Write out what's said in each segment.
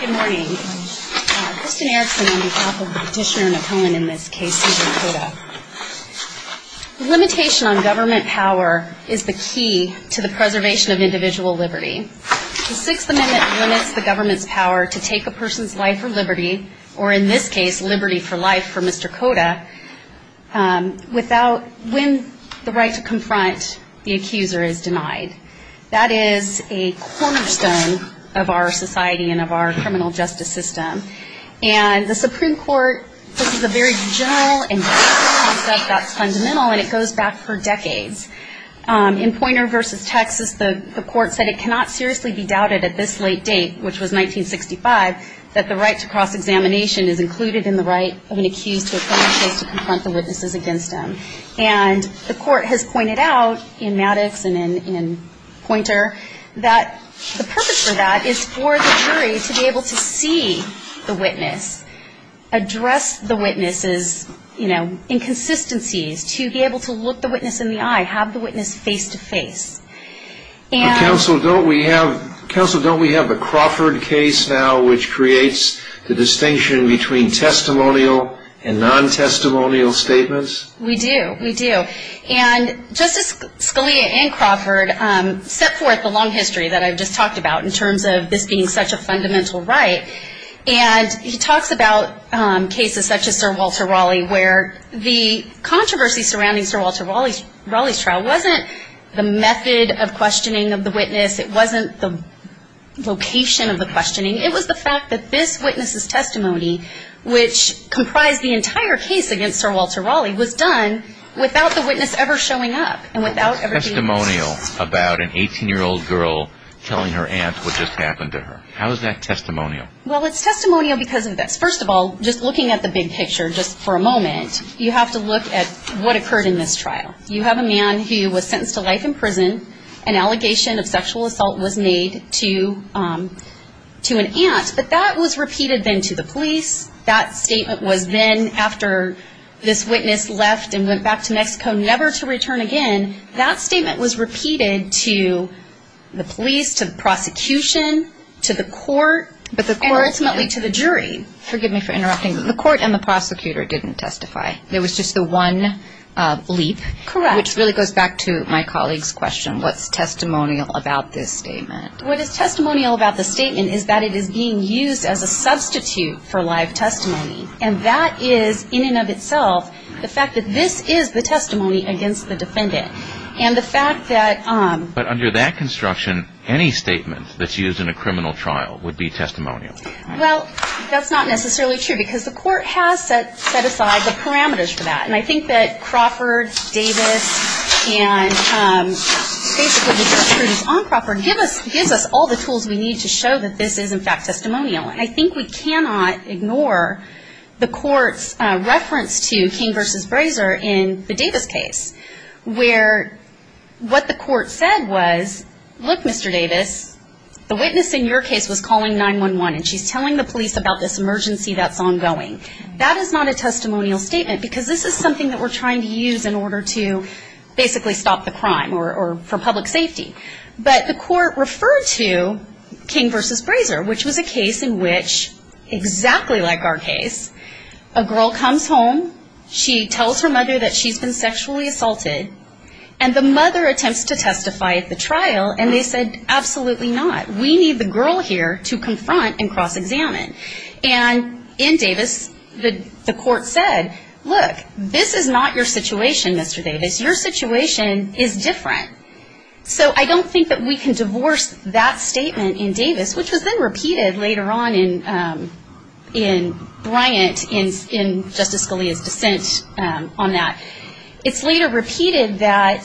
Good morning. Kristen Erickson on behalf of the petitioner and opponent in this case, Mr. Cota. The limitation on government power is the key to the preservation of individual liberty. The Sixth Amendment limits the government's power to take a person's life for liberty, or in this case liberty for life for Mr. Cota, without, when the right to confront the accuser is denied. That is a cornerstone of our society and of our criminal justice system. And the Supreme Court, this is a very general and basic concept that's fundamental, and it goes back for decades. In Poynter v. Texas, the court said it cannot seriously be doubted at this late date, which was 1965, that the right to cross-examination is included in the right of an accused to a criminal case to confront the witnesses against them. And the court has pointed out in Maddox and in Poynter that the purpose for that is for the jury to be able to see the witness, address the witness's, you know, inconsistencies, to be able to look the witness in the eye, have the witness face-to-face. Counsel, don't we have a Crawford case now which creates the distinction between testimonial and non-testimonial statements? We do, we do. And Justice Scalia and Crawford set forth the long history that I've just talked about in terms of this being such a fundamental right. And he talks about cases such as Sir Walter Raleigh, where the controversy surrounding Sir Walter Raleigh's trial wasn't the method of questioning of the witness. It wasn't the location of the questioning. It was the fact that this witness's testimony, which comprised the entire case against Sir Walter Raleigh, was done without the witness ever showing up and without ever being seen. How is that testimonial about an 18-year-old girl telling her aunt what just happened to her? How is that testimonial? Well, it's testimonial because of this. You have to look at what occurred in this trial. You have a man who was sentenced to life in prison. An allegation of sexual assault was made to an aunt. But that was repeated then to the police. That statement was then, after this witness left and went back to Mexico never to return again, that statement was repeated to the police, to the prosecution, to the court, and ultimately to the jury. Forgive me for interrupting. The court and the prosecutor didn't testify. There was just the one leap. Correct. Which really goes back to my colleague's question. What's testimonial about this statement? What is testimonial about the statement is that it is being used as a substitute for live testimony. And that is, in and of itself, the fact that this is the testimony against the defendant. And the fact that... But under that construction, any statement that's used in a criminal trial would be testimonial. Well, that's not necessarily true because the court has set aside the parameters for that. And I think that Crawford, Davis, and basically the judge produced on Crawford, gives us all the tools we need to show that this is, in fact, testimonial. And I think we cannot ignore the court's reference to King v. Brazier in the Davis case, where what the court said was, look, Mr. Davis, the witness in your case was calling 911, and she's telling the police about this emergency that's ongoing. That is not a testimonial statement because this is something that we're trying to use in order to basically stop the crime or for public safety. But the court referred to King v. Brazier, which was a case in which, exactly like our case, a girl comes home, she tells her mother that she's been sexually assaulted, and the mother attempts to testify at the trial, and they said, absolutely not. We need the girl here to confront and cross-examine. And in Davis, the court said, look, this is not your situation, Mr. Davis. Your situation is different. So I don't think that we can divorce that statement in Davis, which was then repeated later on in Bryant in Justice Scalia's dissent on that. It's later repeated that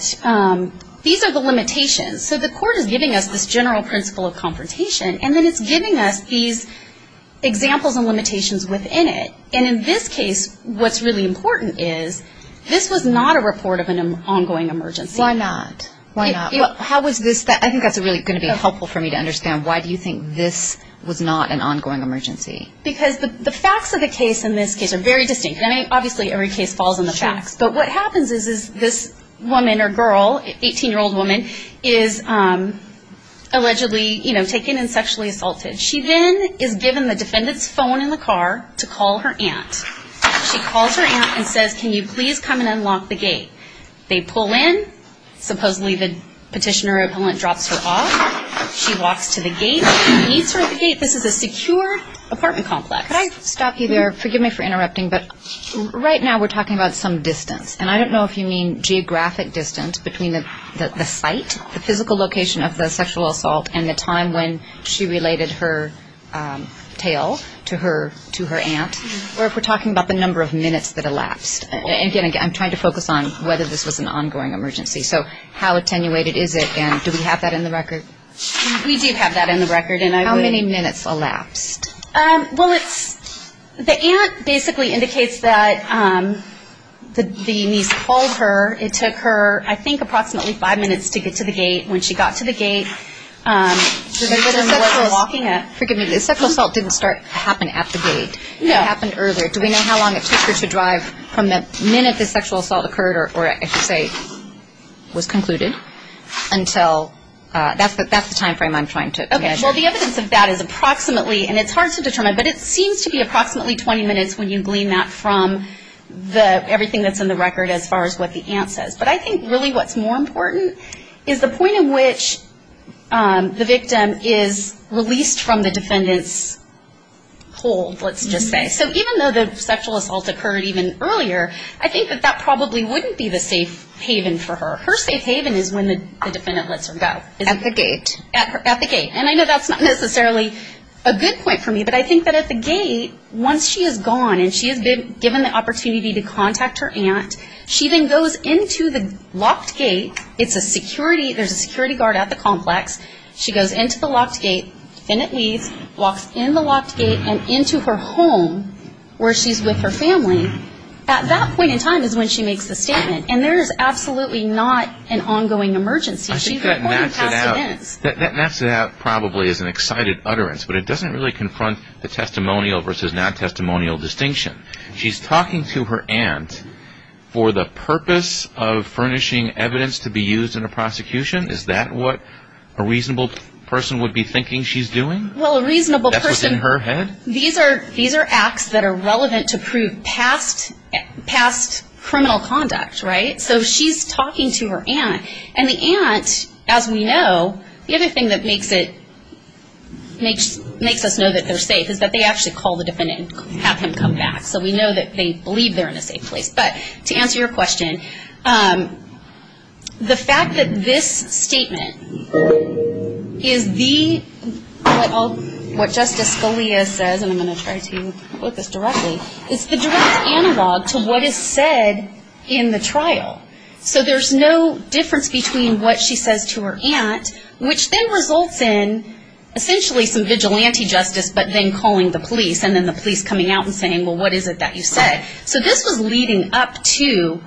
these are the limitations. So the court is giving us this general principle of confrontation, and then it's giving us these examples and limitations within it. And in this case, what's really important is this was not a report of an ongoing emergency. Why not? Why not? I think that's really going to be helpful for me to understand. Why do you think this was not an ongoing emergency? Because the facts of the case in this case are very distinct. I mean, obviously every case falls on the facts. But what happens is this woman or girl, 18-year-old woman, is allegedly taken and sexually assaulted. She then is given the defendant's phone in the car to call her aunt. She calls her aunt and says, can you please come and unlock the gate? They pull in. Supposedly the petitioner or appellant drops her off. She walks to the gate. He meets her at the gate. This is a secure apartment complex. Could I stop you there? Forgive me for interrupting, but right now we're talking about some distance. And I don't know if you mean geographic distance between the site, the physical location of the sexual assault, and the time when she related her tale to her aunt, or if we're talking about the number of minutes that elapsed. Again, I'm trying to focus on whether this was an ongoing emergency. So how attenuated is it? And do we have that in the record? We do have that in the record. How many minutes elapsed? Well, the aunt basically indicates that the niece called her. It took her, I think, approximately five minutes to get to the gate. When she got to the gate, the sexual assault didn't happen at the gate. It happened earlier. Do we know how long it took her to drive from the minute the sexual assault occurred, or I should say was concluded, until? That's the time frame I'm trying to measure. Well, the evidence of that is approximately, and it's hard to determine, but it seems to be approximately 20 minutes when you glean that from everything that's in the record as far as what the aunt says. But I think really what's more important is the point in which the victim is released from the defendant's hold, let's just say. So even though the sexual assault occurred even earlier, I think that that probably wouldn't be the safe haven for her. Her safe haven is when the defendant lets her go. At the gate. At the gate. And I know that's not necessarily a good point for me, but I think that at the gate, once she is gone and she has been given the opportunity to contact her aunt, she then goes into the locked gate. It's a security, there's a security guard at the complex. She goes into the locked gate, finnet leaves, walks in the locked gate, and into her home where she's with her family. At that point in time is when she makes the statement. And there is absolutely not an ongoing emergency. I think that maps it out. She's reporting past events. That maps it out probably as an excited utterance, but it doesn't really confront the testimonial versus non-testimonial distinction. She's talking to her aunt for the purpose of furnishing evidence to be used in a prosecution. Is that what a reasonable person would be thinking she's doing? Well, a reasonable person. That's what's in her head? These are acts that are relevant to prove past criminal conduct, right? So she's talking to her aunt. And the aunt, as we know, the other thing that makes us know that they're safe is that they actually call the defendant and have him come back. So we know that they believe they're in a safe place. But to answer your question, the fact that this statement is the, what Justice Scalia says, and I'm going to try to put this directly, is the direct analog to what is said in the trial. So there's no difference between what she says to her aunt, which then results in essentially some vigilante justice but then calling the police and then the police coming out and saying, well, what is it that you said? So this was leading up to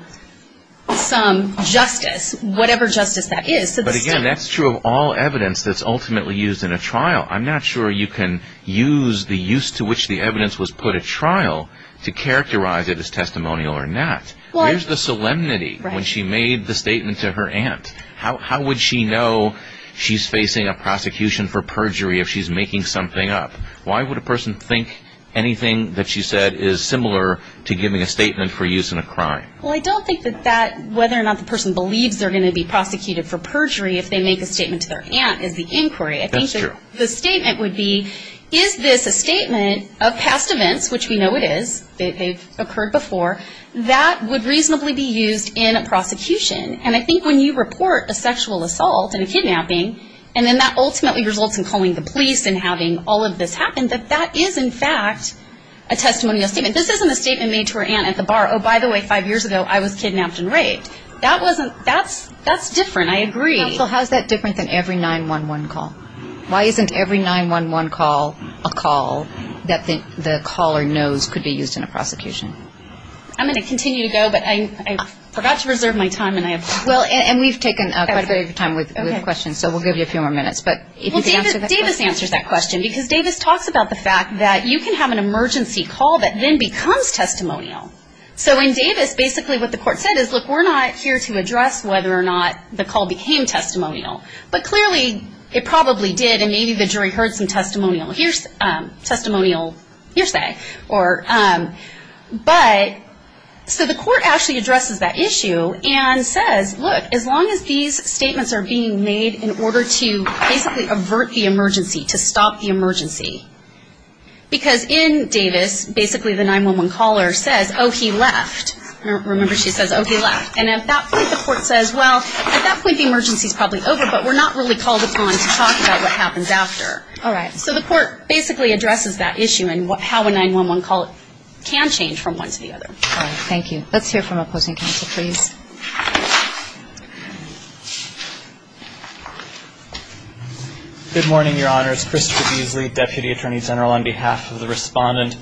some justice, whatever justice that is. But again, that's true of all evidence that's ultimately used in a trial. I'm not sure you can use the use to which the evidence was put at trial to characterize it as testimonial or not. Where's the solemnity when she made the statement to her aunt? How would she know she's facing a prosecution for perjury if she's making something up? Why would a person think anything that she said is similar to giving a statement for use in a crime? Well, I don't think that whether or not the person believes they're going to be prosecuted for perjury if they make a statement to their aunt is the inquiry. That's true. The statement would be, is this a statement of past events, which we know it is, they've occurred before, that would reasonably be used in a prosecution? And I think when you report a sexual assault and a kidnapping, and then that ultimately results in calling the police and having all of this happen, that that is, in fact, a testimonial statement. This isn't a statement made to her aunt at the bar, oh, by the way, five years ago I was kidnapped and raped. That's different. I agree. How is that different than every 911 call? Why isn't every 911 call a call that the caller knows could be used in a prosecution? I'm going to continue to go, but I forgot to reserve my time. And we've taken quite a bit of time with questions, so we'll give you a few more minutes. Davis answers that question because Davis talks about the fact that you can have an emergency call that then becomes testimonial. So in Davis, basically what the court said is, look, we're not here to address whether or not the call became testimonial. But clearly it probably did, and maybe the jury heard some testimonial hearsay. But so the court actually addresses that issue and says, look, as long as these statements are being made in order to basically avert the emergency, to stop the emergency, because in Davis, basically the 911 caller says, oh, he left. Remember, she says, oh, he left. And at that point the court says, well, at that point the emergency is probably over, but we're not really called upon to talk about what happens after. All right. So the court basically addresses that issue and how a 911 call can change from one to the other. All right. Thank you. Let's hear from opposing counsel, please. Good morning, Your Honors. Christopher Beasley, Deputy Attorney General, on behalf of the Respondent.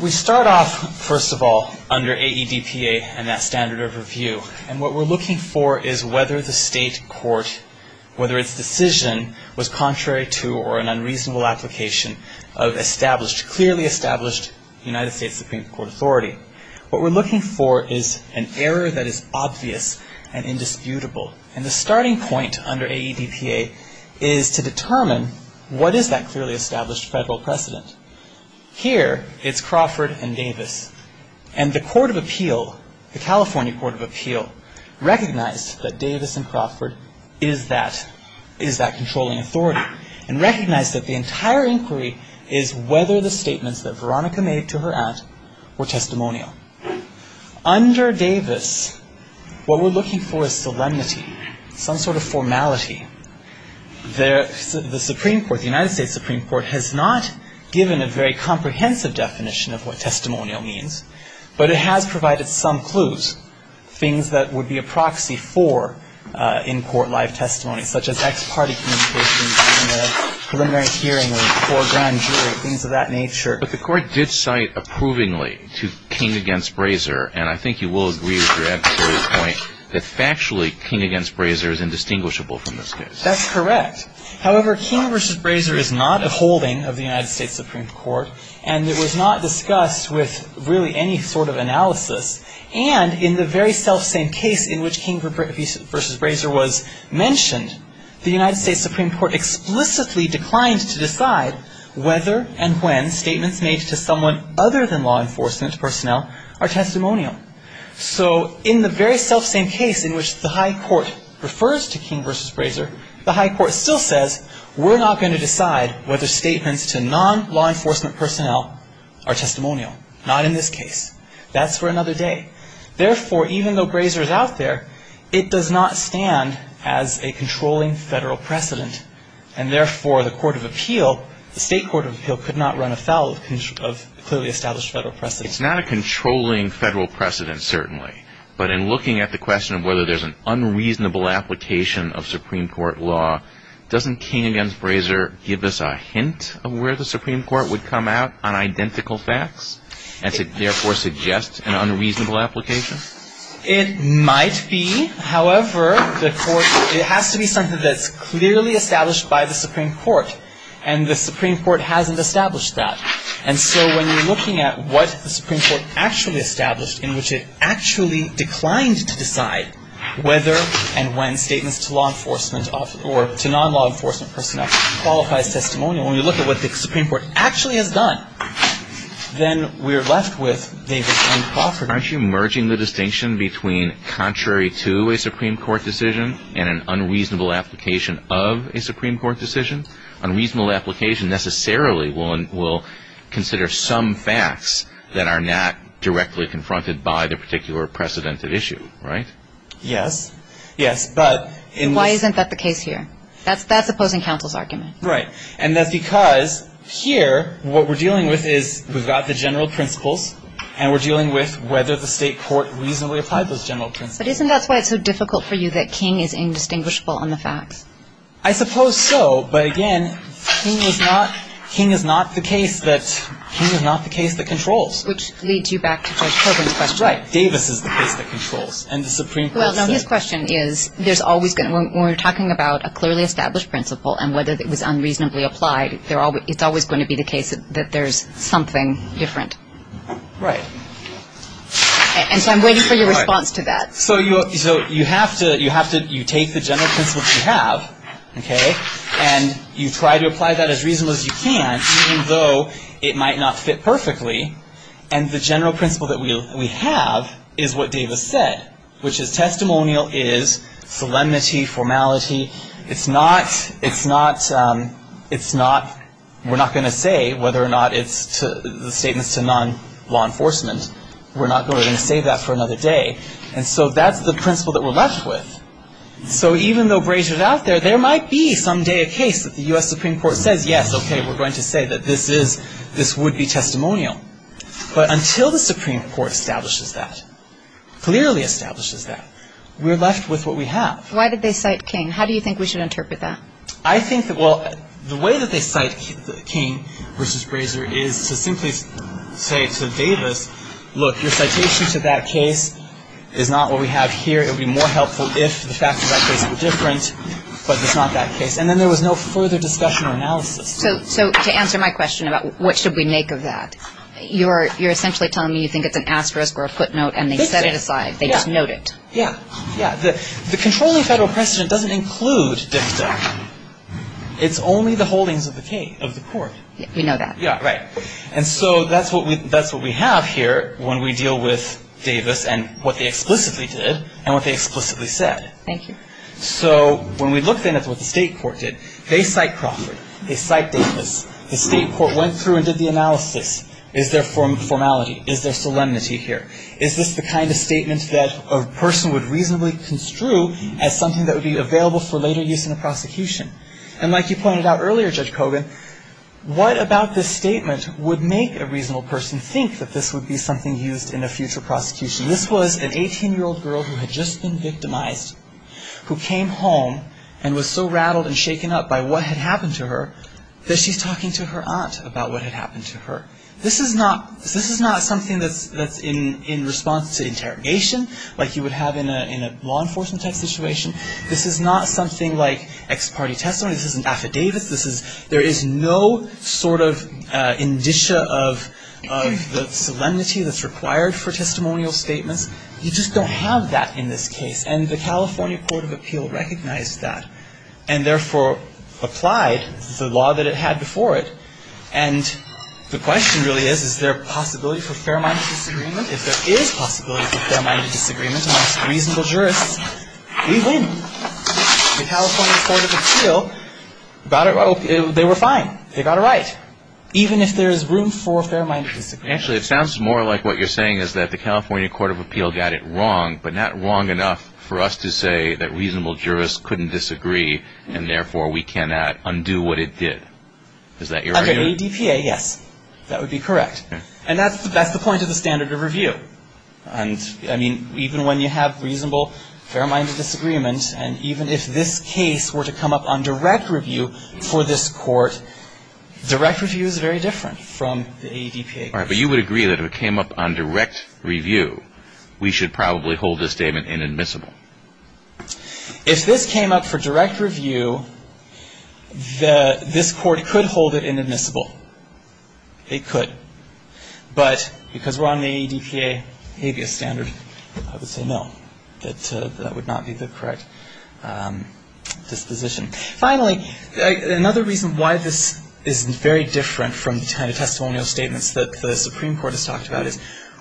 We start off, first of all, under AEDPA and that standard of review. And what we're looking for is whether the state court, whether its decision was contrary to or an unreasonable application of established, clearly established United States Supreme Court authority. What we're looking for is an error that is obvious and indisputable. And the starting point under AEDPA is to determine what is that clearly established federal precedent. Here it's Crawford and Davis. And the Court of Appeal, the California Court of Appeal, recognized that Davis and Crawford is that controlling authority and recognized that the entire inquiry is whether the statements that Veronica made to her aunt were testimonial. Under Davis, what we're looking for is solemnity, some sort of formality. The Supreme Court, the United States Supreme Court, has not given a very comprehensive definition of what testimonial means, but it has provided some clues, things that would be a proxy for in-court live testimony, such as ex-party communications in a preliminary hearing or grand jury, things of that nature. But the Court did cite approvingly to King against Brazier, and I think you will agree with your adversaries' point that factually King against Brazier is indistinguishable from this case. That's correct. However, King versus Brazier is not a holding of the United States Supreme Court, and it was not discussed with really any sort of analysis. And in the very selfsame case in which King versus Brazier was mentioned, the United States Supreme Court explicitly declined to decide whether and when statements made to someone other than law enforcement personnel are testimonial. So in the very selfsame case in which the High Court refers to King versus Brazier, the High Court still says, we're not going to decide whether statements to non-law enforcement personnel are testimonial. Not in this case. That's for another day. Therefore, even though Brazier is out there, it does not stand as a controlling federal precedent. And therefore, the Court of Appeal, the State Court of Appeal, could not run afoul of clearly established federal precedent. It's not a controlling federal precedent, certainly. But in looking at the question of whether there's an unreasonable application of Supreme Court law, doesn't King against Brazier give us a hint of where the Supreme Court would come out on identical facts, and therefore suggest an unreasonable application? It might be. However, it has to be something that's clearly established by the Supreme Court. And the Supreme Court hasn't established that. And so when you're looking at what the Supreme Court actually established, in which it actually declined to decide whether and when statements to law enforcement or to non-law enforcement personnel qualifies as testimonial, when you look at what the Supreme Court actually has done, then we're left with Davis v. Crawford. Aren't you merging the distinction between contrary to a Supreme Court decision and an unreasonable application of a Supreme Court decision? Unreasonable application necessarily will consider some facts that are not directly confronted by the particular precedented issue. Right? Yes. Yes. Why isn't that the case here? That's opposing counsel's argument. Right. And that's because here what we're dealing with is we've got the general principles, and we're dealing with whether the state court reasonably applied those general principles. But isn't that why it's so difficult for you that King is indistinguishable on the facts? I suppose so. But, again, King is not the case that controls. Which leads you back to George Corwin's question. Right. Davis is the case that controls. And the Supreme Court said. Well, now, his question is there's always going to be, when we're talking about a clearly established principle and whether it was unreasonably applied, it's always going to be the case that there's something different. Right. And so I'm waiting for your response to that. So you have to take the general principles you have, okay, and you try to apply that as reasonably as you can, even though it might not fit perfectly. And the general principle that we have is what Davis said, which is testimonial is solemnity, formality. It's not, it's not, it's not, we're not going to say whether or not it's the statements to non-law enforcement. We're not going to say that for another day. And so that's the principle that we're left with. So even though Brazier's out there, there might be someday a case that the U.S. Supreme Court says, yes, okay, we're going to say that this is, this would be testimonial. But until the Supreme Court establishes that, clearly establishes that, we're left with what we have. Why did they cite King? How do you think we should interpret that? I think that, well, the way that they cite King versus Brazier is to simply say to Davis, look, your citation to that case is not what we have here. It would be more helpful if the facts of that case were different, but it's not that case. And then there was no further discussion or analysis. So to answer my question about what should we make of that, you're essentially telling me you think it's an asterisk or a footnote and they set it aside. They just note it. Yeah. The controlling federal precedent doesn't include dicta. It's only the holdings of the court. We know that. Yeah, right. And so that's what we have here when we deal with Davis and what they explicitly did and what they explicitly said. Thank you. So when we look then at what the state court did, they cite Crawford. They cite Davis. The state court went through and did the analysis. Is there formality? Is there solemnity here? Is this the kind of statement that a person would reasonably construe as something that would be available for later use in a prosecution? And like you pointed out earlier, Judge Kogan, what about this statement would make a reasonable person think that this would be something used in a future prosecution? This was an 18-year-old girl who had just been victimized, who came home and was so rattled and shaken up by what had happened to her that she's talking to her aunt about what had happened to her. This is not something that's in response to interrogation like you would have in a law enforcement type situation. This is not something like ex parte testimony. This isn't affidavits. There is no sort of indicia of the solemnity that's required for testimonial statements. You just don't have that in this case. And the California Court of Appeal recognized that and therefore applied the law that it had before it. And the question really is, is there a possibility for fair-minded disagreement? If there is possibility for fair-minded disagreement amongst reasonable jurists, we win. The California Court of Appeal got it right. They were fine. They got it right. Even if there is room for fair-minded disagreement. Actually, it sounds more like what you're saying is that the California Court of Appeal got it wrong, but not wrong enough for us to say that reasonable jurists couldn't disagree and therefore we cannot undo what it did. Is that your argument? Under ADPA, yes. That would be correct. Okay. And that's the point of the standard of review. And, I mean, even when you have reasonable fair-minded disagreement and even if this case were to come up on direct review for this court, direct review is very different from the ADPA. All right. But you would agree that if it came up on direct review, we should probably hold this statement inadmissible. If this came up for direct review, this court could hold it inadmissible. It could. But because we're on the ADPA habeas standard, I would say no. That would not be the correct disposition. Finally, another reason why this is very different from the kind of testimonial statements that the Supreme Court has talked about is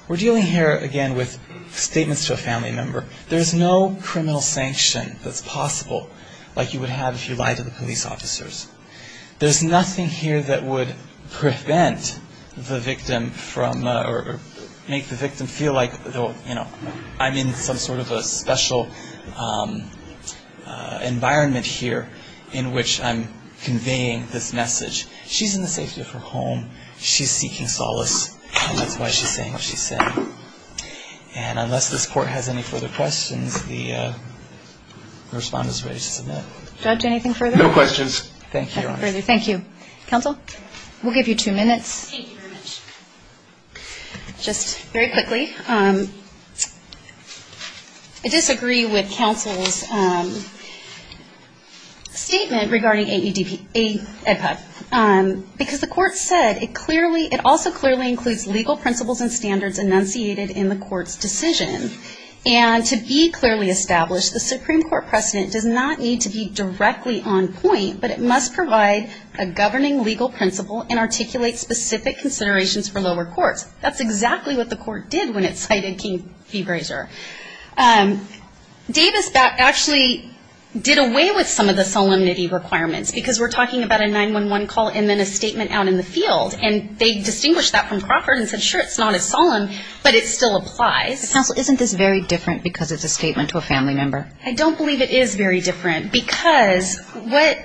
we're dealing here, again, with statements to a family member. There's no criminal sanction that's possible like you would have if you lied to the police officers. There's nothing here that would prevent the victim from or make the victim feel like, you know, I'm in some sort of a special environment here in which I'm conveying this message. She's in the safety of her home. She's seeking solace, and that's why she's saying what she's saying. And unless this court has any further questions, the respondent is ready to submit. Judge, anything further? No questions. Thank you, Your Honor. Nothing further. Thank you. Counsel, we'll give you two minutes. Thank you very much. Just very quickly, I disagree with counsel's statement regarding ADPA. Because the court said it also clearly includes legal principles and standards enunciated in the court's decision. And to be clearly established, the Supreme Court precedent does not need to be directly on point, but it must provide a governing legal principle and articulate specific considerations for lower courts. That's exactly what the court did when it cited King v. Brazier. Davis actually did away with some of the solemnity requirements because we're talking about a 911 call and then a statement out in the field. And they distinguished that from Crawford and said, sure, it's not as solemn, but it still applies. Counsel, isn't this very different because it's a statement to a family member? I don't believe it is very different because what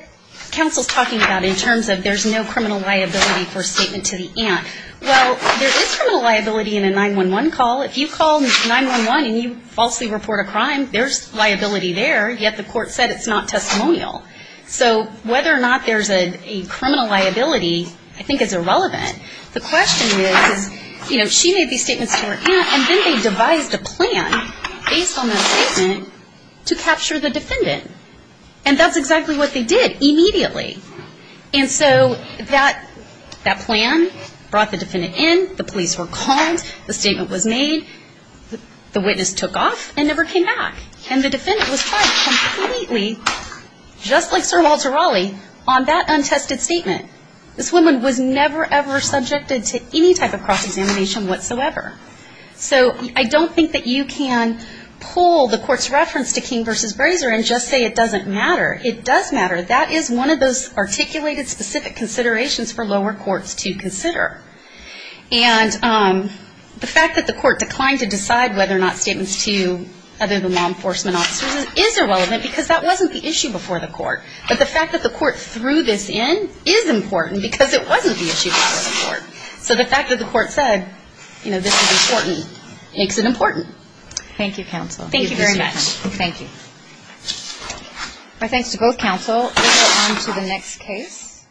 counsel's talking about in terms of there's no criminal liability for a statement to the aunt, well, there is criminal liability in a 911 call. If you call 911 and you falsely report a crime, there's liability there, yet the court said it's not testimonial. So whether or not there's a criminal liability I think is irrelevant. The question is, you know, she made these statements to her aunt and then they devised a plan based on that statement to capture the defendant. And that's exactly what they did immediately. And so that plan brought the defendant in, the police were called, the statement was made, the witness took off and never came back. And the defendant was tried completely, just like Sir Walter Raleigh, on that untested statement. This woman was never, ever subjected to any type of cross-examination whatsoever. So I don't think that you can pull the court's reference to King v. Brazier and just say it doesn't matter. It does matter. That is one of those articulated, specific considerations for lower courts to consider. And the fact that the court declined to decide whether or not statements to other than law enforcement officers is irrelevant because that wasn't the issue before the court. But the fact that the court threw this in is important because it wasn't the issue before the court. So the fact that the court said, you know, this is important makes it important. Thank you, counsel. Thank you very much. Thank you. My thanks to both counsel. We'll go on to the next case.